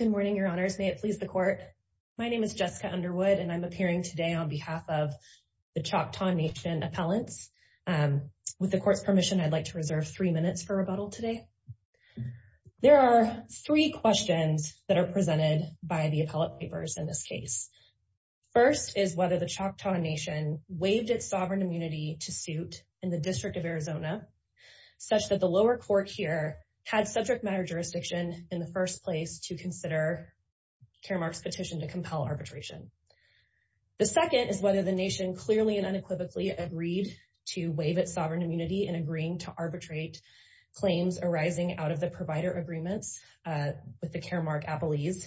Good morning, your honors. May it please the court. My name is Jessica Underwood and I'm appearing today on behalf of the Choctaw Nation appellants. With the court's permission, I'd like to reserve three minutes for rebuttal today. There are three questions that are presented by the appellate papers in this case. First is whether the Choctaw Nation waived its sovereign immunity to suit in the District of Arizona, such that the lower court here had subject matter jurisdiction in the first place to consider Caremark's petition to compel arbitration. The second is whether the nation clearly and unequivocally agreed to waive its sovereign immunity in agreeing to arbitrate claims arising out of the provider agreements with the Caremark appellees.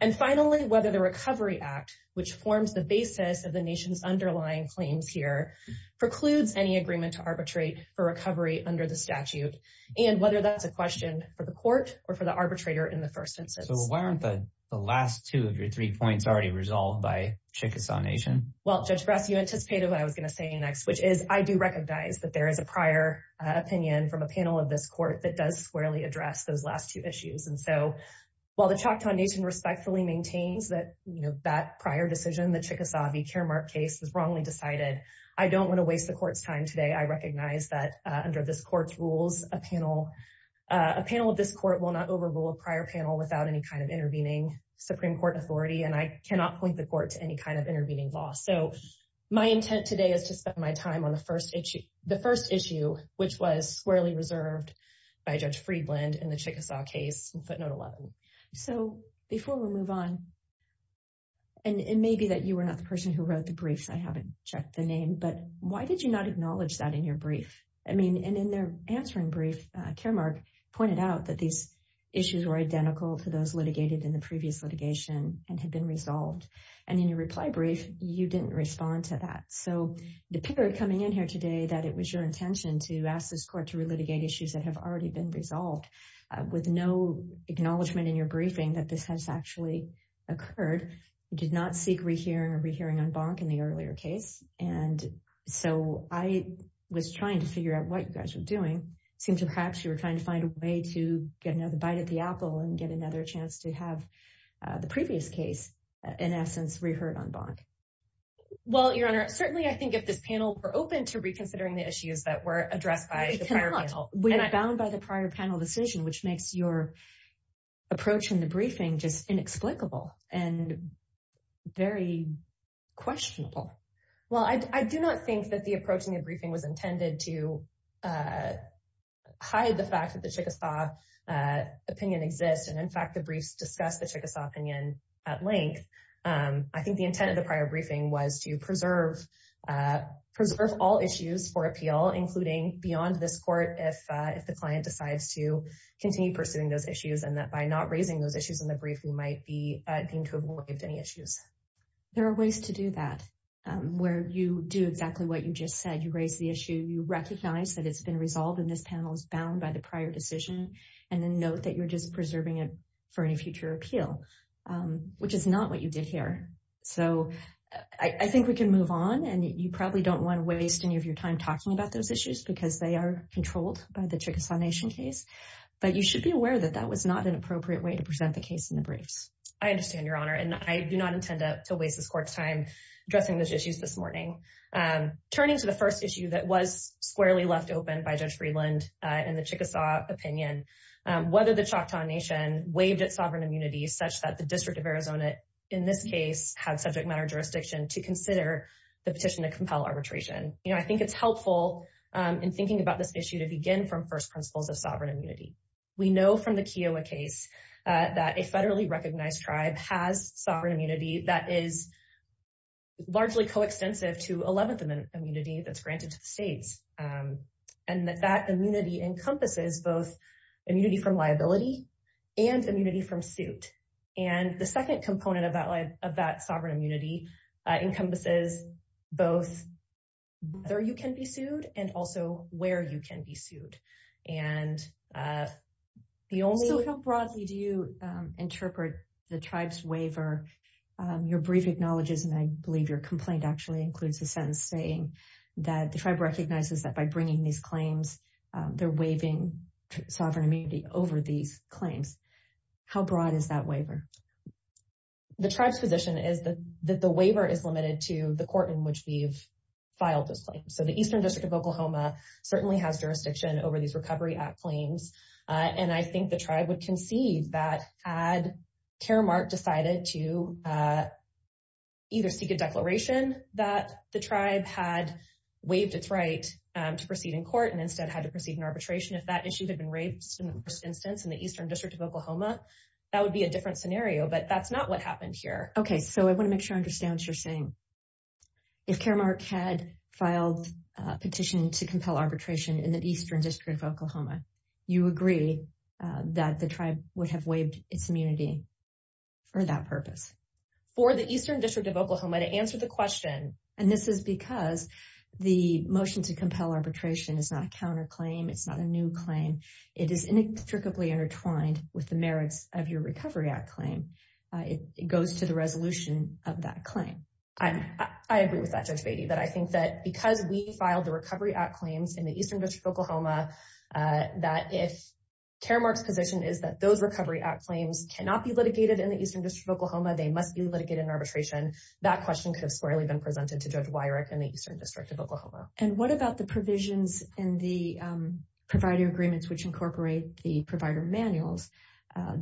And finally, whether the Recovery Act, which forms the basis of the Choctaw Nation's underlying claims here, precludes any agreement to arbitrate for recovery under the statute, and whether that's a question for the court or for the arbitrator in the first instance. So why aren't the last two of your three points already resolved by Chickasaw Nation? Well, Judge Bress, you anticipated what I was going to say next, which is I do recognize that there is a prior opinion from a panel of this court that does squarely address those last two issues. And so while the Choctaw Nation respectfully maintains that, you know, that prior decision, in the Chickasaw v. Caremark case was wrongly decided, I don't want to waste the court's time today. I recognize that under this court's rules, a panel of this court will not overrule a prior panel without any kind of intervening Supreme Court authority. And I cannot point the court to any kind of intervening law. So my intent today is to spend my time on the first issue, which was squarely reserved by Judge Friedland in the Chickasaw case in footnote 11. So before we move on, and it may be that you were not the person who wrote the briefs, I haven't checked the name, but why did you not acknowledge that in your brief? I mean, and in their answering brief, Caremark pointed out that these issues were identical to those litigated in the previous litigation and had been resolved. And in your reply brief, you didn't respond to that. So the period coming in here today that it was your intention to ask this court to relitigate issues that have already been resolved, with no acknowledgement in your briefing that this has actually occurred, did not seek rehearing or rehearing on Bonk in the earlier case. And so I was trying to figure out what you guys were doing. Seems perhaps you were trying to find a way to get another bite at the apple and get another chance to have the previous case, in essence, reheard on Bonk. Well, Your Honor, certainly I think if this panel were open to reconsidering the issues that were addressed by the prior panel. We are bound by the prior panel decision, which makes your approach in the briefing just inexplicable and very questionable. Well, I do not think that the approach in the briefing was intended to hide the fact that the Chickasaw opinion exists. And in fact, the briefs discussed the Chickasaw opinion at length. I think the intent of the prior briefing was to preserve all issues for appeal, including beyond this court, if the client decides to continue pursuing those issues, and that by not raising those issues in the briefing might be deemed to have waived any issues. There are ways to do that, where you do exactly what you just said. You raise the issue, you recognize that it's been resolved, and this panel is bound by the prior decision, and then note that you're just preserving it for any future appeal, which is not what you did here. So I think we can move on, and you probably don't want to waste any of your time talking about those issues, because they are controlled by the Chickasaw Nation case. But you should be aware that that was not an appropriate way to present the case in the briefs. I understand, Your Honor, and I do not intend to waste this court's time addressing those issues this morning. Turning to the first issue that was squarely left open by Judge Freeland in the Chickasaw opinion, whether the Choctaw Nation waived its sovereign immunity, such that the District of Arizona, in this case, had subject matter jurisdiction to consider the petition to compel arbitration. You know, I think it's helpful in thinking about this issue to begin from first principles of sovereign immunity. We know from the Kiowa case that a federally recognized tribe has sovereign immunity that is largely coextensive to 11th immunity that's granted to the states, and that that immunity encompasses both immunity from liability and immunity from suit. And the second component of that sovereign immunity encompasses both whether you can be sued and also where you can be sued. So how broadly do you interpret the tribe's waiver? Your brief acknowledges, and I believe your complaint actually includes a sentence saying that the tribe recognizes that by bringing these claims, they're waiving sovereign immunity over these claims. How broad is that waiver? The tribe's position is that the waiver is limited to the court in which we've filed those claims. So the Eastern District of Oklahoma certainly has jurisdiction over these Recovery Act claims, and I think the tribe would concede that had Karamark decided to either seek a declaration that the tribe had waived its right to proceed in court and instead had to proceed in arbitration, if that issue had been raised in the first instance in the Eastern District of Oklahoma, that would be a different scenario, but that's not what happened here. Okay, so I want to make sure I understand what you're saying. If Karamark had filed a petition to compel arbitration in the Eastern District of Oklahoma, you agree that the tribe would have waived its immunity for that purpose? For the Eastern District of Oklahoma to answer the question, and this is because the motion to compel arbitration is not a counterclaim, it's not a new claim, it is inextricably intertwined with the merits of your Recovery Act claim. It goes to the resolution of that claim. I agree with that, Judge Beatty, but I think that because we filed the Recovery Act claims in the Eastern District of Oklahoma, that if Karamark's position is that those Recovery Act claims cannot be litigated in the Eastern District of Oklahoma, they must be litigated in arbitration, that question could have squarely been presented to Judge Weyrich in the Eastern District of Oklahoma. And what about the provisions in the provider agreements which incorporate the provider manuals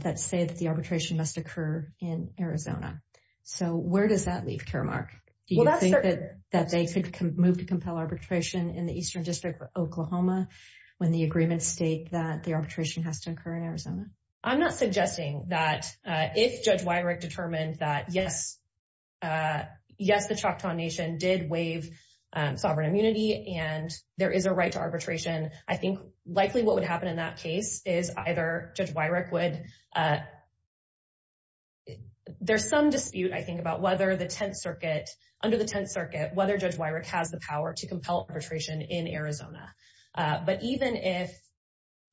that say that the arbitration must occur in Arizona? So where does that leave Karamark? Do you think that they could move to compel arbitration in the Eastern District of Oklahoma when the agreements state that the arbitration has to occur in Arizona? I'm not suggesting that if Judge Weyrich determined that yes, the Choctaw Nation did waive sovereign immunity and there is a right to arbitration, I think likely what would happen in that case is either Judge Weyrich would... There's some dispute, I think, about whether the Tenth Circuit, under the Tenth Circuit, whether Judge Weyrich has the power to compel arbitration in Arizona. But even if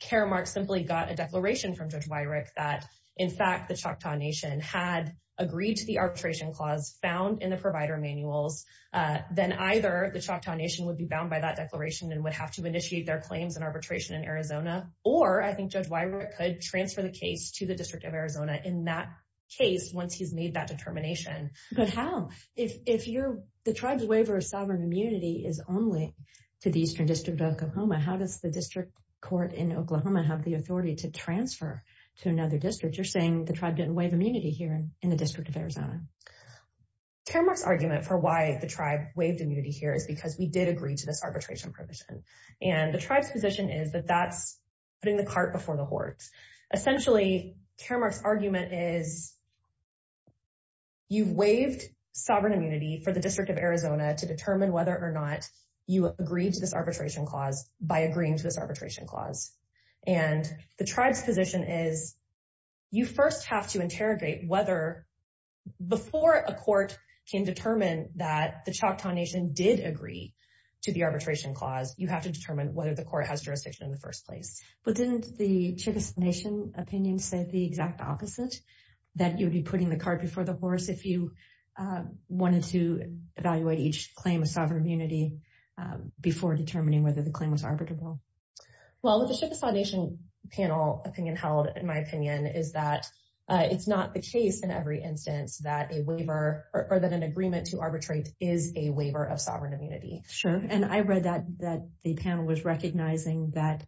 Karamark simply got a declaration from Judge Weyrich that, in fact, the Choctaw Nation had agreed to the arbitration clause found in the provider manuals, then either the Choctaw Nation would be bound by that declaration and would have to initiate their claims in arbitration in Arizona, or I think Judge Weyrich could transfer the case to the District of Arizona in that case once he's made that determination. But how? If the tribe's waiver of sovereign immunity is only to the Eastern Court in Oklahoma have the authority to transfer to another district, you're saying the tribe didn't waive immunity here in the District of Arizona. Karamark's argument for why the tribe waived immunity here is because we did agree to this arbitration provision. And the tribe's position is that that's putting the cart before the horse. Essentially, Karamark's argument is you've waived sovereign immunity for the District of Arizona to determine whether or not you agreed to this arbitration clause by agreeing to this arbitration clause. And the tribe's position is you first have to interrogate whether before a court can determine that the Choctaw Nation did agree to the arbitration clause, you have to determine whether the court has jurisdiction in the first place. But didn't the Chickasaw Nation opinion say the exact opposite? That you'd be putting the cart before the horse if you wanted to evaluate each claim of sovereign immunity before determining whether the claim was arbitrable? Well, the Chickasaw Nation panel opinion held, in my opinion, is that it's not the case in every instance that a waiver or that an agreement to arbitrate is a waiver of sovereign immunity. Sure. And I read that the panel was recognizing that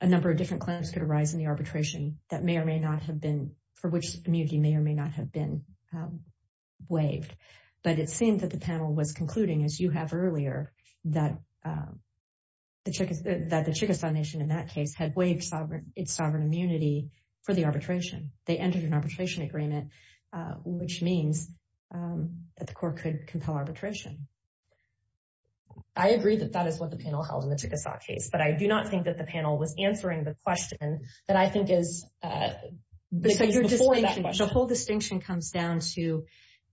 a number of different claims could arise in the arbitration that may or may not have been for which immunity may or may not have been waived. But it seemed that the panel was concluding, as you have earlier, that the Chickasaw Nation in that case had waived its sovereign immunity for the arbitration. They entered an arbitration agreement, which means that the court could compel arbitration. I agree that that is what the panel held in the Chickasaw case. But I do not think that the panel was answering the question that I think is before that question. The whole distinction comes down to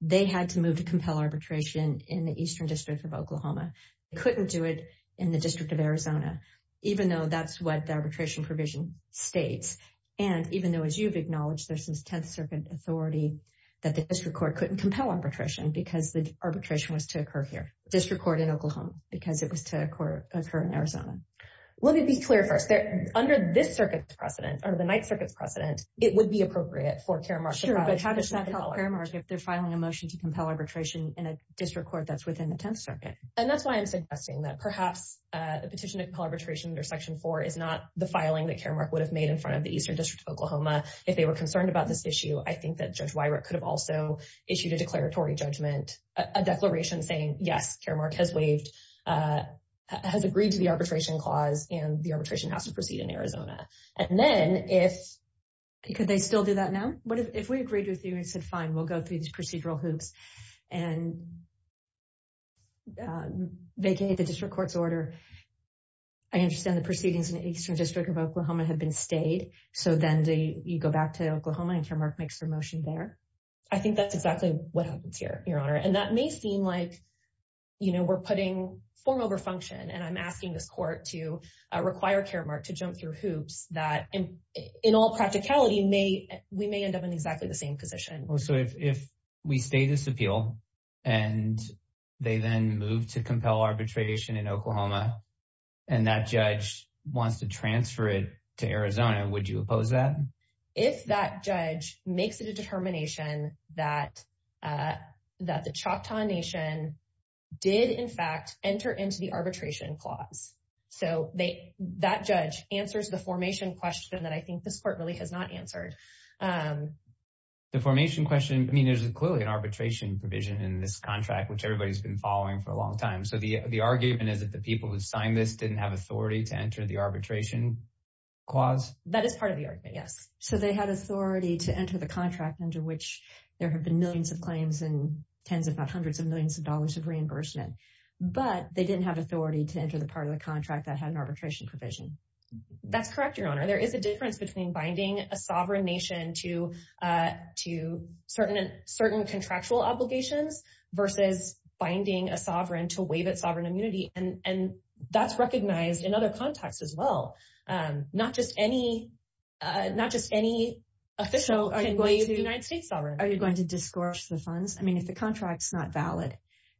they had to move to compel arbitration in the Eastern District of Oklahoma. They couldn't do it in the District of Arizona, even though that's what the arbitration provision states. And even though, as you've acknowledged, there's this Tenth Circuit authority that the District Court couldn't compel arbitration because the arbitration was to occur here, the District Court in Oklahoma, because it was to occur in Arizona. Let me be clear first. Under this circuit's precedent, under the Ninth Circuit's precedent, it would be appropriate for Karamark to compel arbitration. Sure, but how does that help Karamark if they're filing a motion to compel arbitration in a District Court that's within the Tenth Circuit? And that's why I'm suggesting that perhaps a petition to compel arbitration under Section 4 is not the filing that Karamark would have made in front of the Eastern District of Oklahoma if they were concerned about this issue. I think that Judge Weirich could have also issued a declaratory judgment, a declaration saying, yes, Karamark has waived, has agreed to the arbitration clause, and the arbitration has to proceed in Arizona. And then if... Could they still do that now? If we agreed with you and said, fine, we'll go through these procedural hoops and vacate the District Court's order, I understand the proceedings in the Eastern District of Oklahoma have been stayed, so then you go back to Oklahoma and Karamark makes their motion there. I think that's exactly what happens here, Your Honor. And that may seem like we're form over function and I'm asking this Court to require Karamark to jump through hoops, that in all practicality, we may end up in exactly the same position. So if we stay this appeal and they then move to compel arbitration in Oklahoma and that judge wants to transfer it to Arizona, would you oppose that? If that judge makes it a determination that the Choctaw Nation did, in fact, enter into the arbitration clause. So that judge answers the formation question that I think this Court really has not answered. The formation question, I mean, there's clearly an arbitration provision in this contract, which everybody's been following for a long time. So the argument is that the people who signed this didn't have authority to enter the arbitration clause? That is part of the argument, yes. So they had authority to enter the contract under which there have been millions of claims and tens if not hundreds of millions of dollars of reimbursement, but they didn't have authority to enter the part of the contract that had an arbitration provision. That's correct, Your Honor. There is a difference between binding a sovereign nation to certain contractual obligations versus binding a sovereign to waive its sovereign immunity, and that's recognized in other contracts as well. Not just any official can waive the United States sovereign. Are you going to discourage the funds? I mean, if the contract's not valid,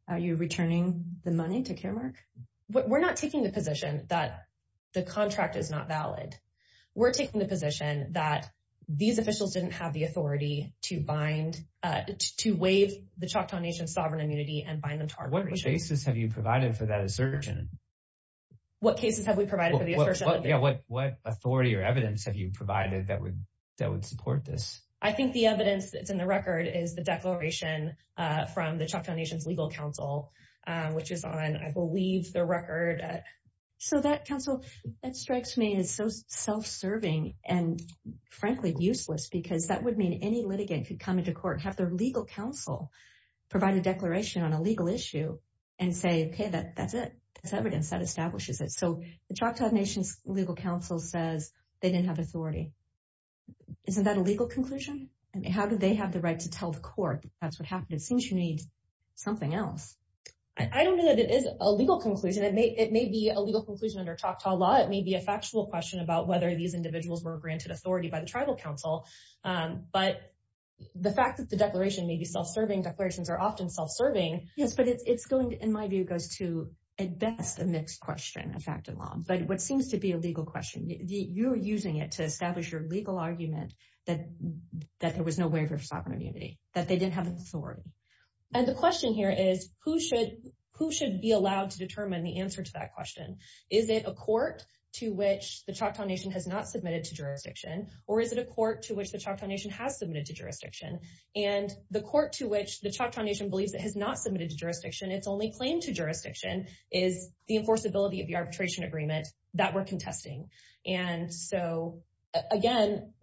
are you returning the money to Caremark? We're not taking the position that the contract is not valid. We're taking the position that these officials didn't have the authority to bind, to waive the Choctaw Nation's sovereign immunity and bind them to arbitration. What cases have you provided for that assertion? What cases have we provided for the assertion? What authority or evidence have you provided that would support this? I think the evidence that's in the record is the declaration from the Choctaw Nation's legal counsel, which is on, I believe, the record. So that counsel, that strikes me as so self-serving and, frankly, useless, because that would mean any litigant could come into court, have their legal counsel provide a declaration on a legal issue and say, okay, that's it. That's evidence that establishes it. So the Choctaw Nation's legal counsel says they didn't have authority. Isn't that a legal conclusion? I mean, how did they have the right to tell the court that's what happened? It seems you need something else. I don't know that it is a legal conclusion. It may be a legal conclusion under Choctaw law. It may be a factual question about whether these individuals were granted authority by the tribal counsel. But the fact that the declaration may be self-serving, declarations are often self-serving. Yes, but it's going, in my view, goes to, at best, a mixed question, a fact of law. But what seems to be a legal question, you're using it to establish your legal argument that there was no waiver of sovereign immunity, that they didn't have authority. And the question here is, who should be allowed to determine the jurisdiction? Or is it a court to which the Choctaw Nation has submitted to jurisdiction? And the court to which the Choctaw Nation believes it has not submitted to jurisdiction, its only claim to jurisdiction, is the enforceability of the arbitration agreement that we're contesting. And so, again,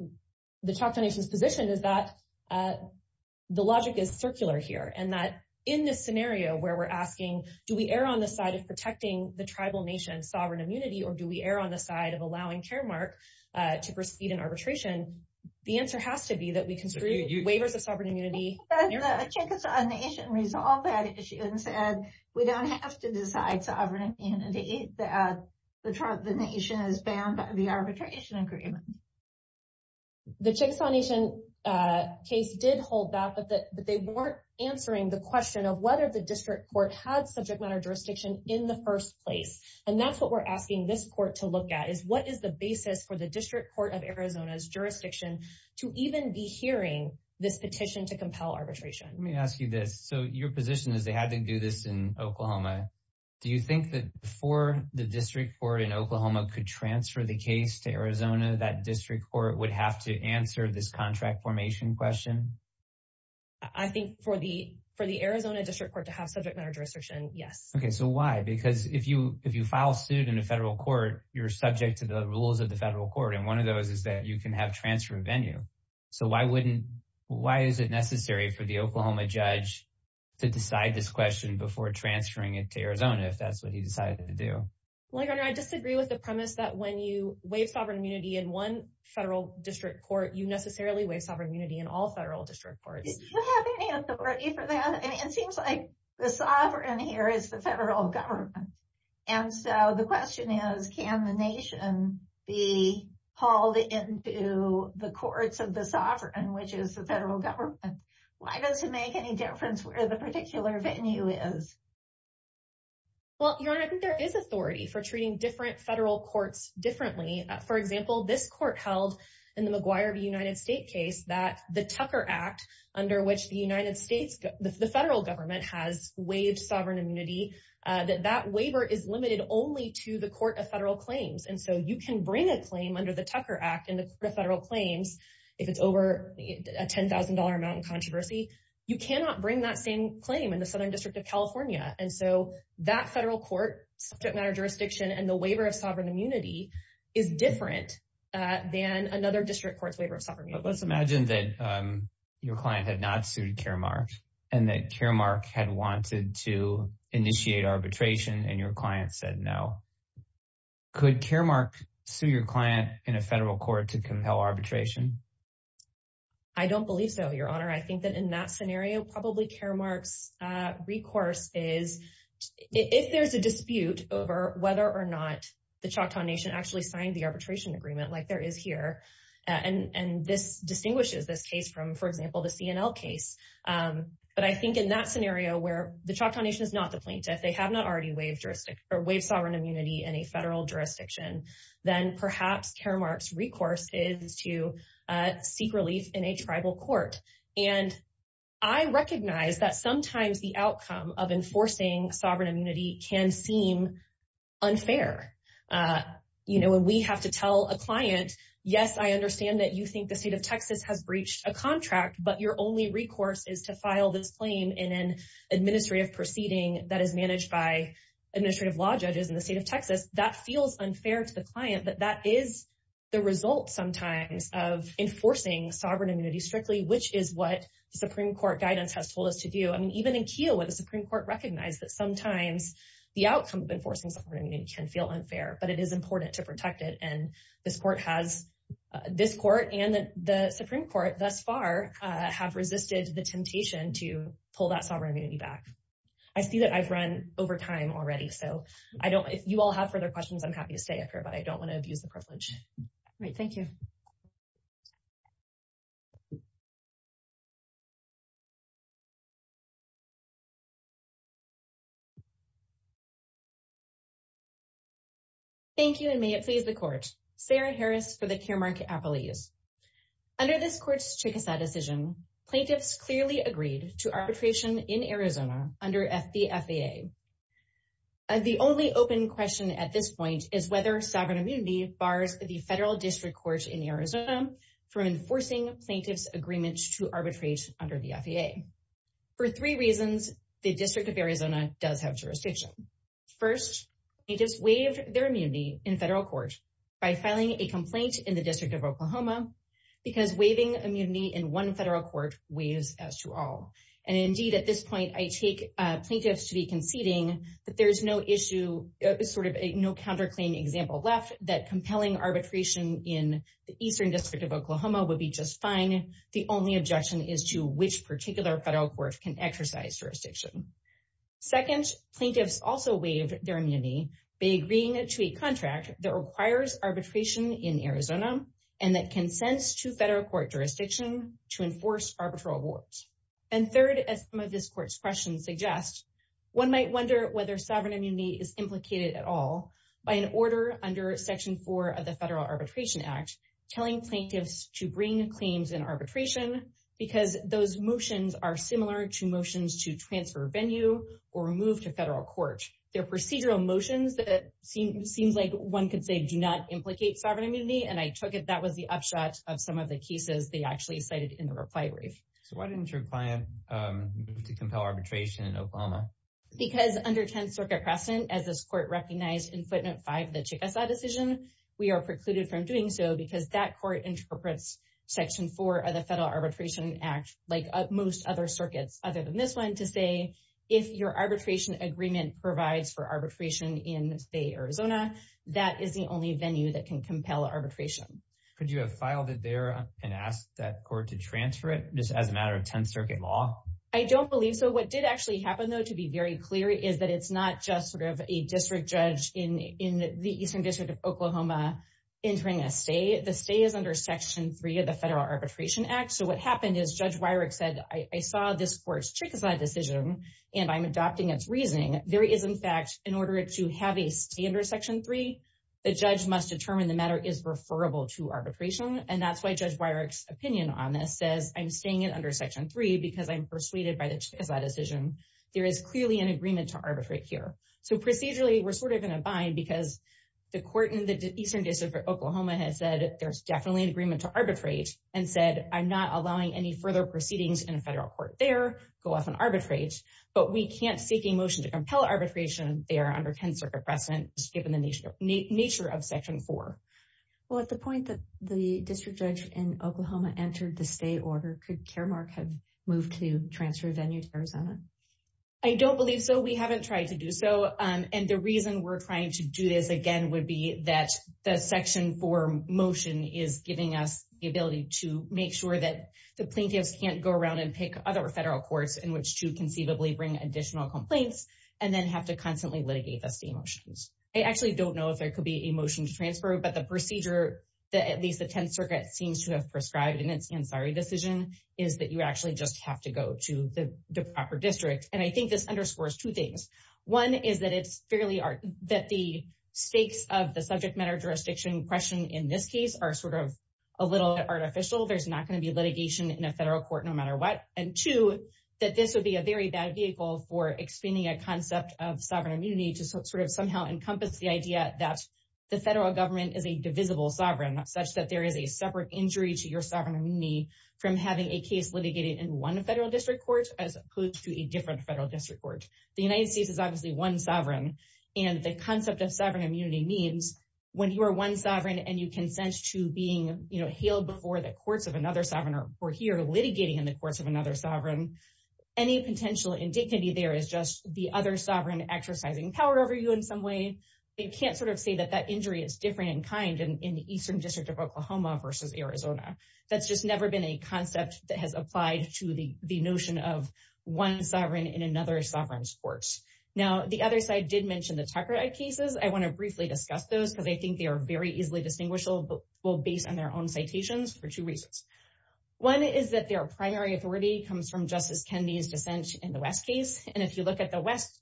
the Choctaw Nation's position is that the logic is circular here. And that in this scenario where we're asking, do we err on the side of protecting the tribal nation's sovereign immunity? Or do we err on the side of allowing Karamark to proceed in arbitration? The answer has to be that we construe waivers of sovereign immunity. I think that the Chickasaw Nation resolved that issue and said, we don't have to decide sovereign immunity. The nation is bound by the arbitration agreement. The Chickasaw Nation case did hold that, but they weren't answering the question of whether the district court had subject matter jurisdiction in the first place. And that's what we're asking this court to look at, is what is the basis for the district court of Arizona's jurisdiction to even be hearing this petition to compel arbitration? Let me ask you this. So your position is they had to do this in Oklahoma. Do you think that before the district court in Oklahoma could transfer the case to Arizona, that district court would have to answer this contract formation question? I think for the Arizona district court to have subject matter jurisdiction, yes. So why? Because if you file suit in a federal court, you're subject to the rules of the federal court. And one of those is that you can have transfer of venue. So why is it necessary for the Oklahoma judge to decide this question before transferring it to Arizona if that's what he decided to do? Well, your honor, I disagree with the premise that when you waive sovereign immunity in one federal district court, you necessarily waive sovereign immunity in all federal district courts. Do you have any authority for that? It seems like the sovereign here is the federal government. And so the question is, can the nation be hauled into the courts of the sovereign, which is the federal government? Why does it make any difference where the particular venue is? Well, your honor, I think there is authority for treating different federal courts differently. For example, this court held in the McGuire v. United States case that the Tucker Act, under which the federal government has waived sovereign immunity, that that waiver is limited only to the Court of Federal Claims. And so you can bring a claim under the Tucker Act in the Court of Federal Claims if it's over a $10,000 amount in controversy. You cannot bring that same claim in the Southern District of California. And so that federal court, subject matter jurisdiction, and the waiver of sovereign immunity is different than another district court's waiver of sovereign immunity. But let's imagine that your client had not sued Caremark, and that Caremark had wanted to initiate arbitration, and your client said no. Could Caremark sue your client in a federal court to compel arbitration? I don't believe so, your honor. I think that in that scenario, probably Caremark's recourse is, if there's a dispute over whether or not the Choctaw Nation actually signed the arbitration agreement, like there is here, and this distinguishes this case from, for example, the CNL case. But I think in that scenario, where the Choctaw Nation is not the plaintiff, they have not already waived jurisdiction, or waived sovereign immunity in a federal jurisdiction, then perhaps Caremark's recourse is to seek relief in a tribal court. And I recognize that sometimes the outcome of enforcing sovereign immunity can seem unfair. You know, when we have to tell a client, yes, I understand that you think the state of Texas has breached a contract, but your only recourse is to file this claim in an administrative proceeding that is managed by administrative law judges in the state of Texas, that feels unfair to the client, but that is the result sometimes of enforcing sovereign immunity strictly, which is what the Supreme Court guidance has told us to do. I mean, even in Keough, where the Supreme Court recognized that sometimes the outcome of enforcing sovereign immunity can feel unfair, but it is important to protect it. And this court has, this court and the Supreme Court thus far, have resisted the temptation to pull that sovereign immunity back. I see that I've run over time already. So I don't, if you all have further questions, I'm happy to stay up here, but I don't want to abuse the privilege. All right. Thank you. Thank you, and may it please the Court. Sarah Harris for the Caremark Appellees. Under this court's Chickasaw decision, plaintiffs clearly agreed to arbitration in Arizona under the FAA. The only open question at this point is whether sovereign immunity bars the Federal District Court in Arizona from enforcing plaintiff's agreement to arbitrate under the FAA. For three reasons, the District of Arizona does have jurisdiction. First, plaintiffs waived their immunity in federal court by filing a complaint in the District of Oklahoma, because waiving immunity in one federal court waives as to all. And indeed, at this point, I take plaintiffs to be conceding that there's no issue, sort of a no counterclaim example left, that compelling arbitration in the Eastern District of Oklahoma would be just fine. The only objection is to which particular federal court can exercise jurisdiction. Second, plaintiffs also waived their immunity by agreeing to a contract that requires arbitration in Arizona and that consents to federal court jurisdiction to enforce arbitral warrants. And third, as some of this court's questions suggest, one might wonder whether sovereign immunity is implicated at all by an order under Section 4 of the Federal Arbitration Act telling plaintiffs to bring claims in arbitration, because those motions are similar to motions to transfer venue or move to federal court. They're procedural motions that seems like one could say do not implicate sovereign immunity, and I took it that was the case as they actually cited in the reply brief. So why didn't your client move to compel arbitration in Oklahoma? Because under 10th Circuit precedent, as this court recognized in Footnote 5, the Chickasaw decision, we are precluded from doing so because that court interprets Section 4 of the Federal Arbitration Act, like most other circuits other than this one, to say if your arbitration agreement provides for arbitration in the state of Arizona, that is the only venue that can compel arbitration. Could you have filed it there and asked that court to transfer it just as a matter of 10th Circuit law? I don't believe so. What did actually happen though, to be very clear, is that it's not just sort of a district judge in the Eastern District of Oklahoma entering a stay. The stay is under Section 3 of the Federal Arbitration Act. So what happened is Judge Weirich said, I saw this court's Chickasaw decision and I'm adopting its reasoning. There is, in fact, in to arbitration. And that's why Judge Weirich's opinion on this says, I'm staying in under Section 3 because I'm persuaded by the Chickasaw decision. There is clearly an agreement to arbitrate here. So procedurally, we're sort of in a bind because the court in the Eastern District of Oklahoma has said, there's definitely an agreement to arbitrate and said, I'm not allowing any further proceedings in a federal court there, go off and arbitrate. But we can't seek a motion to compel arbitration there under 10th Circuit precedent, given the nature of Section 4. Well, at the point that the district judge in Oklahoma entered the stay order, could Caremark have moved to transfer venue to Arizona? I don't believe so. We haven't tried to do so. And the reason we're trying to do this again would be that the Section 4 motion is giving us the ability to make sure that the plaintiffs can't go around and pick other federal courts in which to conceivably bring additional complaints and then have to constantly litigate the stay motions. I actually don't know if there could be a motion to transfer, but the procedure that at least the 10th Circuit seems to have prescribed in its Ansari decision is that you actually just have to go to the proper district. And I think this underscores two things. One is that the stakes of the subject matter jurisdiction question in this case are sort of a little artificial. There's not going to be litigation in a federal court no matter what. And two, that this would be a very bad vehicle for explaining a concept of sovereign immunity to sort of somehow encompass the idea that the federal government is a divisible sovereign, such that there is a separate injury to your sovereign immunity from having a case litigated in one federal district court as opposed to a different federal district court. The United States is obviously one sovereign, and the concept of sovereign immunity means when you are one sovereign and you consent to being, you know, hailed before the courts of another sovereign or here litigating in the courts of another sovereign, any potential indignity there is just the other sovereign exercising power over you in some way. They can't sort of say that that injury is different in kind in the Eastern District of Oklahoma versus Arizona. That's just never been a concept that has applied to the notion of one sovereign in another sovereign's courts. Now, the other side did mention the Tuckeride cases. I want to briefly discuss those because I think they are very easily distinguishable based on their own citations for two reasons. One is that their primary authority comes from Justice Kennedy's dissent in the West case, and if you look at the West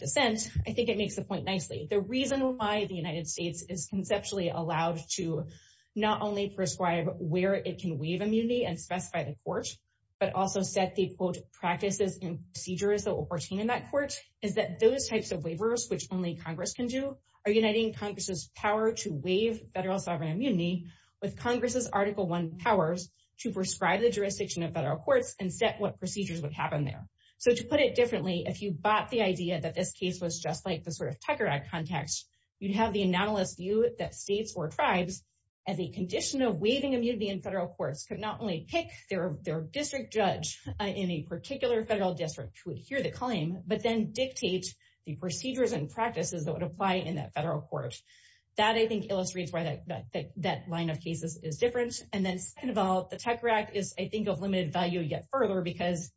dissent, I think it makes the point nicely. The reason why the United States is conceptually allowed to not only prescribe where it can waive immunity and specify the court, but also set the, quote, practices and procedures that will pertain in that court is that those types of waivers, which only Congress can do, are uniting Congress's power to waive federal sovereign immunity with Congress's Article I powers to prescribe the jurisdiction of federal courts and set what procedures would happen there. So, to put it differently, if you bought the idea that this case was just like the sort of Tuckeride context, you'd have the anomalous view that states or tribes, as a condition of waiving immunity in federal courts, could not only pick their district judge in a particular federal district who would hear the claim, but then dictate the procedures and practices that would apply in that federal court. That, I think, illustrates why that line of cases is different. And then, second of all, the Tucker Act is, I think, of limited value yet further because,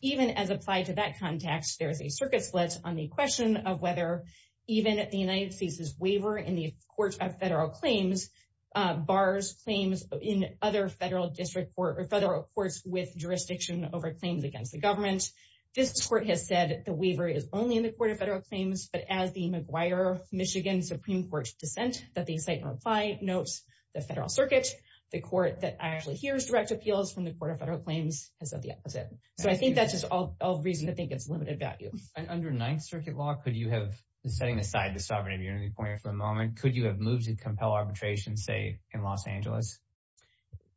even as applied to that context, there is a circuit split on the question of whether even the United States' waiver in the Court of Federal Claims bars claims in other federal courts with jurisdiction over claims against the government. This Court has said the waiver is only in the Court of Federal Claims, but as the McGuire Michigan Supreme Court's dissent that they cite and apply notes, the federal circuit, the court that actually hears direct appeals from the Court of Federal Claims, has said the opposite. So, I think that's just all reason to think it's limited value. Under Ninth Circuit law, could you have, setting aside the Sovereign Immunity point for a moment, could you have moved to compel arbitration, say, in Los Angeles?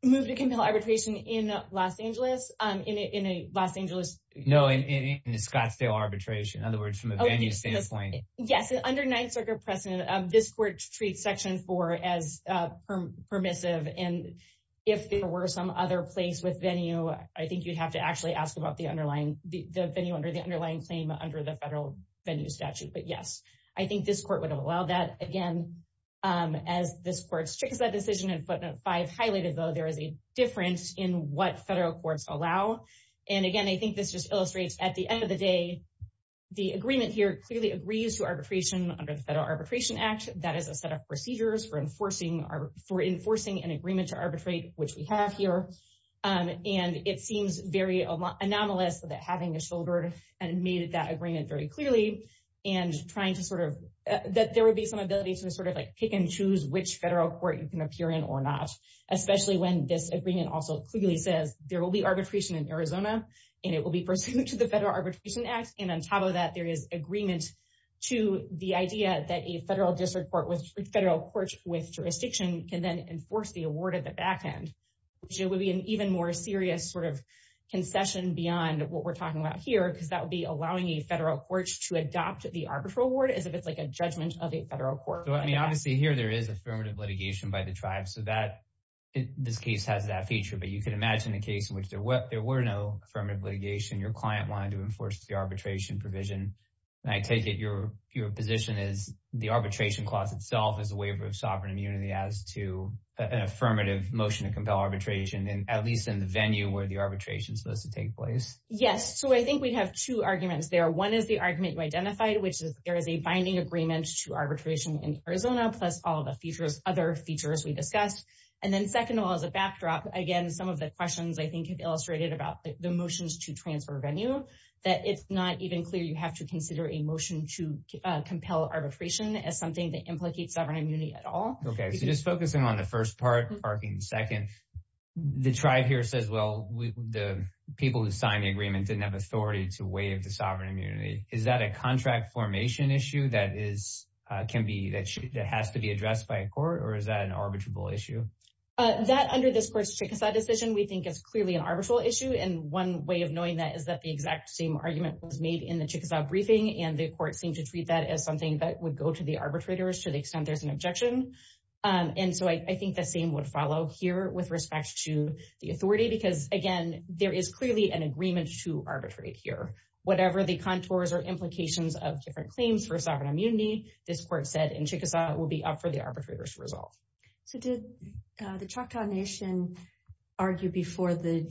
Moved to compel arbitration in Los Angeles? In a Los Angeles? No, in Scottsdale arbitration. In other words, from a venue standpoint. Yes, under Ninth Circuit precedent, this Court treats Section 4 as permissive, and if there were some other place with venue, I think you'd have to actually ask about the underlying, the venue under the underlying claim under the federal venue statute. But, yes, I think this Court would have allowed that. Again, as this Court's Chickasaw decision in Footnote 5 highlighted, though, there is a difference in what federal courts allow. And again, I think this just illustrates, at the end of the day, the agreement here clearly agrees to arbitration under the Federal Arbitration Act. That is a set of procedures for enforcing an agreement to arbitrate, which we have here. And it seems very anomalous that having a shoulder and made that agreement very clearly, and trying to sort of, that there would be some ability to sort of, like, pick and choose which this agreement also clearly says, there will be arbitration in Arizona, and it will be pursuant to the Federal Arbitration Act. And on top of that, there is agreement to the idea that a federal district court with federal courts with jurisdiction can then enforce the award at the back end, which it would be an even more serious sort of concession beyond what we're talking about here, because that would be allowing a federal court to adopt the arbitral award as if it's, like, a judgment of a federal court. So, I mean, obviously, here there is affirmative litigation by the tribe. So that, this case has that feature. But you can imagine a case in which there were no affirmative litigation. Your client wanted to enforce the arbitration provision. And I take it your position is the arbitration clause itself is a waiver of sovereign immunity as to an affirmative motion to compel arbitration, and at least in the venue where the arbitration is supposed to take place. Yes. So, I think we have two arguments there. One is the argument you identified, which is there is a binding agreement to arbitration in Arizona, plus all other features we discussed. And then, second of all, as a backdrop, again, some of the questions, I think, have illustrated about the motions to transfer venue, that it's not even clear you have to consider a motion to compel arbitration as something that implicates sovereign immunity at all. Okay. So, just focusing on the first part, parking second, the tribe here says, well, the people who signed the agreement didn't have authority to waive the sovereign immunity. Is that a contract formation issue that has to be addressed by a court, or is that an arbitrable issue? That, under this court's Chickasaw decision, we think is clearly an arbitral issue. And one way of knowing that is that the exact same argument was made in the Chickasaw briefing, and the court seemed to treat that as something that would go to the arbitrators to the extent there's an objection. And so, I think the same would follow here with respect to the authority, because, again, there is clearly an agreement to arbitrate here. Whatever the contours or implications of different claims for sovereign immunity, this court said in Chickasaw, it will be up for the arbitrators to resolve. So, did the Choctaw Nation argue before the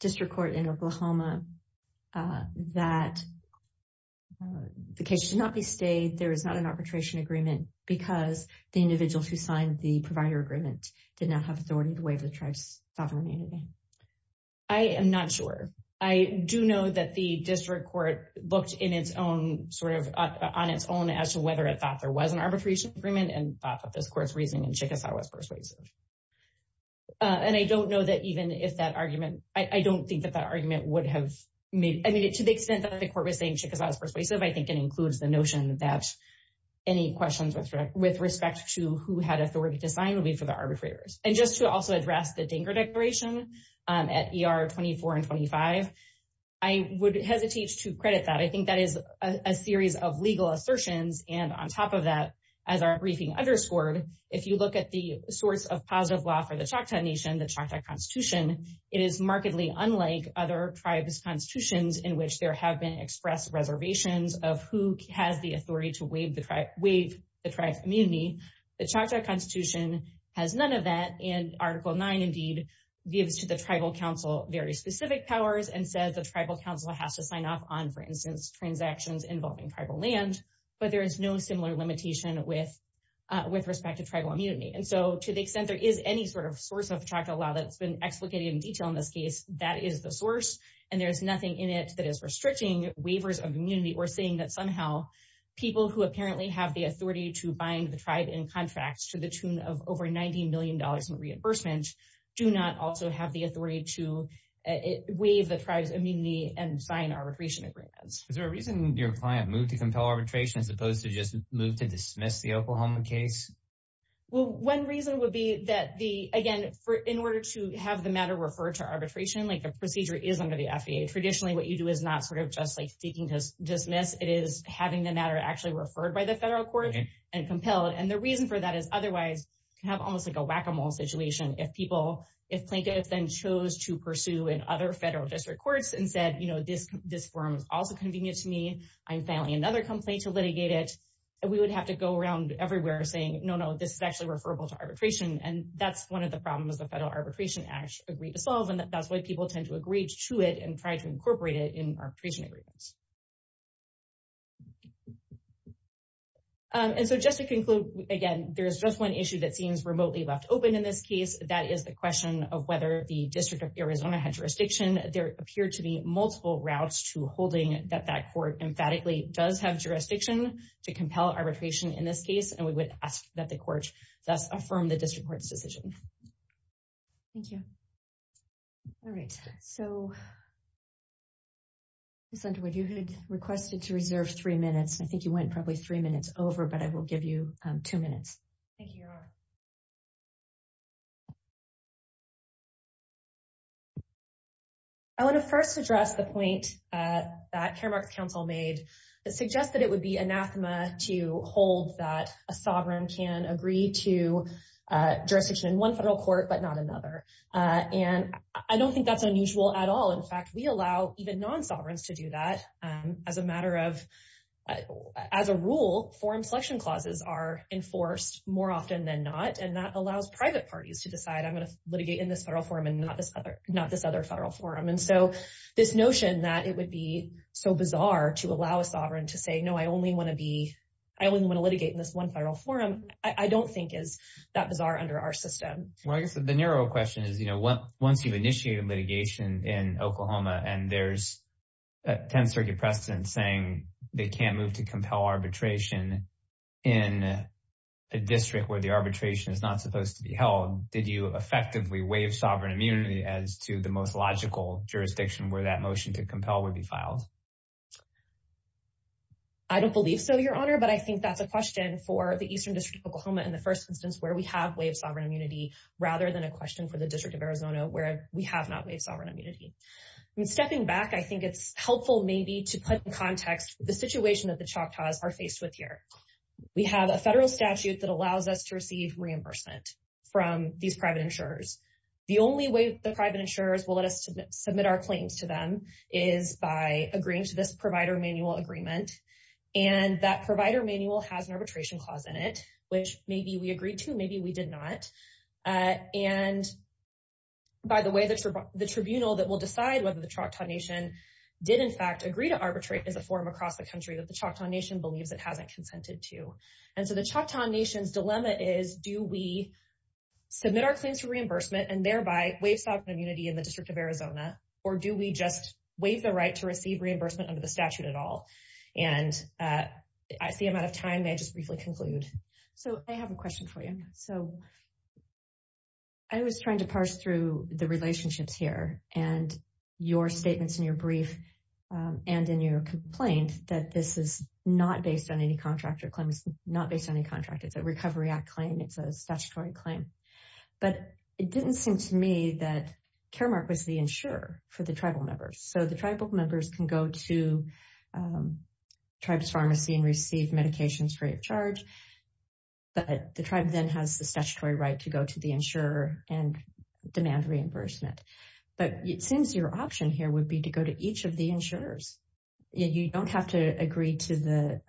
district court in Oklahoma that the case should not be stayed, there is not an arbitration agreement, because the individuals who signed the provider agreement did not have authority to waive the tribe's sovereign immunity? I am not sure. I do know that the district court looked in its own, sort of, on its own as to whether it thought there was an arbitration agreement and thought that this court's reasoning in Chickasaw was persuasive. And I don't know that even if that argument, I don't think that that argument would have made, I mean, to the extent that the court was saying Chickasaw was persuasive, I think it includes the notion that any questions with respect to who had authority to sign would be for the arbitrators. And just to also address the at ER 24 and 25, I would hesitate to credit that. I think that is a series of legal assertions. And on top of that, as our briefing underscored, if you look at the source of positive law for the Choctaw Nation, the Choctaw Constitution, it is markedly unlike other tribes' constitutions in which there have been expressed reservations of who has the authority to waive the tribe's The Choctaw Constitution has none of that. And Article 9, indeed, gives to the Tribal Council very specific powers and says the Tribal Council has to sign off on, for instance, transactions involving tribal land. But there is no similar limitation with respect to tribal immunity. And so to the extent there is any sort of source of Choctaw law that's been explicated in detail in this case, that is the source. And there's nothing in it that is restricting waivers of immunity or saying that somehow people who apparently have the authority to bind the tribe in contracts to the tune of over $90 million in reimbursement do not also have the authority to waive the tribe's immunity and sign arbitration agreements. Is there a reason your client moved to compel arbitration as opposed to just move to dismiss the Oklahoma case? Well, one reason would be that, again, in order to have the matter referred to arbitration, the procedure is under the FDA. Traditionally, what you do is not sort of just seeking to dismiss. It is having the matter actually referred by the federal court and compelled. And the reason for that is otherwise you can have almost like a whack-a-mole situation if people, if plaintiffs then chose to pursue in other federal district courts and said, this form is also convenient to me. I'm filing another complaint to litigate it. And we would have to go around everywhere saying, no, no, this is actually referable to arbitration. And that's one of the problems the Federal Arbitration Act agreed to solve. That's why people tend to agree to it and try to incorporate it in arbitration agreements. And so just to conclude, again, there's just one issue that seems remotely left open in this case. That is the question of whether the District of Arizona had jurisdiction. There appear to be multiple routes to holding that that court emphatically does have jurisdiction to compel arbitration in this case. And we would ask that the court thus affirm the district court's decision. Thank you. All right. So, Ms. Underwood, you had requested to reserve three minutes. I think you went probably three minutes over, but I will give you two minutes. I want to first address the point that Karamark's counsel made that suggested it would be anathema to hold that a sovereign can agree to jurisdiction in one federal court, but not another. And I don't think that's unusual at all. In fact, we allow even non-sovereigns to do that as a matter of, as a rule, forum selection clauses are enforced more often than not. And that allows private parties to decide I'm going to litigate in this federal forum and not this other federal forum. And so this notion that it would be so bizarre to allow a sovereign to say, no, I only want to litigate in this one federal forum, I don't think is that bizarre under our system. Well, I guess the narrow question is, you know, once you've initiated litigation in Oklahoma and there's a 10th Circuit precedent saying they can't move to compel arbitration in a district where the arbitration is not supposed to be held, did you effectively waive sovereign immunity as to the most logical jurisdiction where that motion to compel would be filed? I don't believe so, Your Honor, but I think that's a question for the Eastern District of Oklahoma in the first instance where we have waived sovereign immunity rather than a question for the District of Arizona where we have not waived sovereign immunity. And stepping back, I think it's helpful maybe to put in context the situation that the Choctaws are faced with here. We have a federal statute that allows us to receive reimbursement from these private insurers. The only way the private insurers will let us submit our claims to them is by agreeing to this provider manual agreement. And that provider manual has an arbitration clause in it, which maybe we agreed to, maybe we did not. And by the way, the tribunal that will decide whether the Choctaw Nation did in fact agree to arbitrate is a forum across the country that the Choctaw Nation believes it hasn't consented to. And so the Choctaw Nation's dilemma is, do we thereby waive sovereign immunity in the District of Arizona, or do we just waive the right to receive reimbursement under the statute at all? And I see I'm out of time, may I just briefly conclude? So I have a question for you. So I was trying to parse through the relationships here and your statements in your brief and in your complaint that this is not based on any contractor not based on any contract. It's a Recovery Act claim. It's a statutory claim. But it didn't seem to me that Caremark was the insurer for the tribal members. So the tribal members can go to tribes pharmacy and receive medications free of charge. But the tribe then has the statutory right to go to the insurer and demand reimbursement. But it seems your option here would be to go to each of the insurers. You don't have to agree to the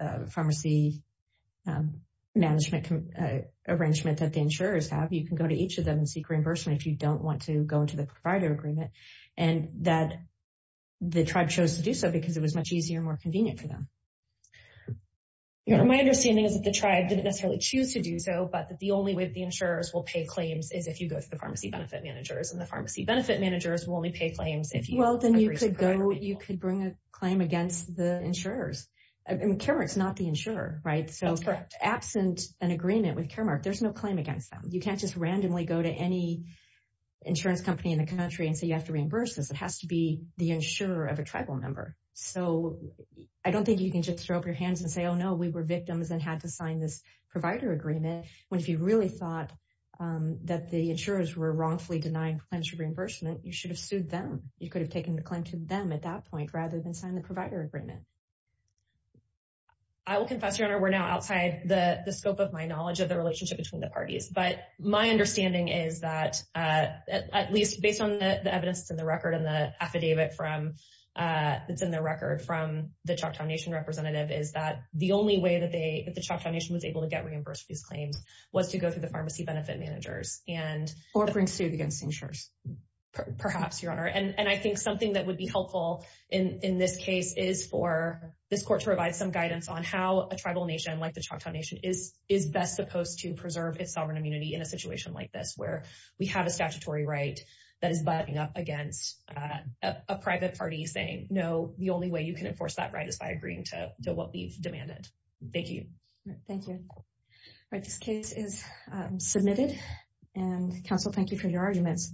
management arrangement that the insurers have, you can go to each of them and seek reimbursement if you don't want to go into the provider agreement. And that the tribe chose to do so because it was much easier, more convenient for them. My understanding is that the tribe didn't necessarily choose to do so. But the only way the insurers will pay claims is if you go to the pharmacy benefit managers and the pharmacy benefit managers will only pay claims if you you could bring a claim against the insurers. Caremark is not the insurer, right? So absent an agreement with Caremark, there's no claim against them. You can't just randomly go to any insurance company in the country and say you have to reimburse this. It has to be the insurer of a tribal member. So I don't think you can just throw up your hands and say, oh, no, we were victims and had to sign this provider agreement. When if you really thought that the insurers were wrongfully denied claims for reimbursement, you should have sued them. You could have taken the claim to them at that point rather than sign the provider agreement. I will confess, your honor, we're now outside the scope of my knowledge of the relationship between the parties. But my understanding is that at least based on the evidence in the record and the affidavit from it's in the record from the Choctaw Nation representative, is that the only way that the Choctaw Nation was able to get reimbursed for these claims was to go to the I think something that would be helpful in this case is for this court to provide some guidance on how a tribal nation like the Choctaw Nation is best supposed to preserve its sovereign immunity in a situation like this, where we have a statutory right that is butting up against a private party saying, no, the only way you can enforce that right is by agreeing to what we've demanded. Thank you. Thank you. All right. This case is submitted and counsel, thank you for your arguments.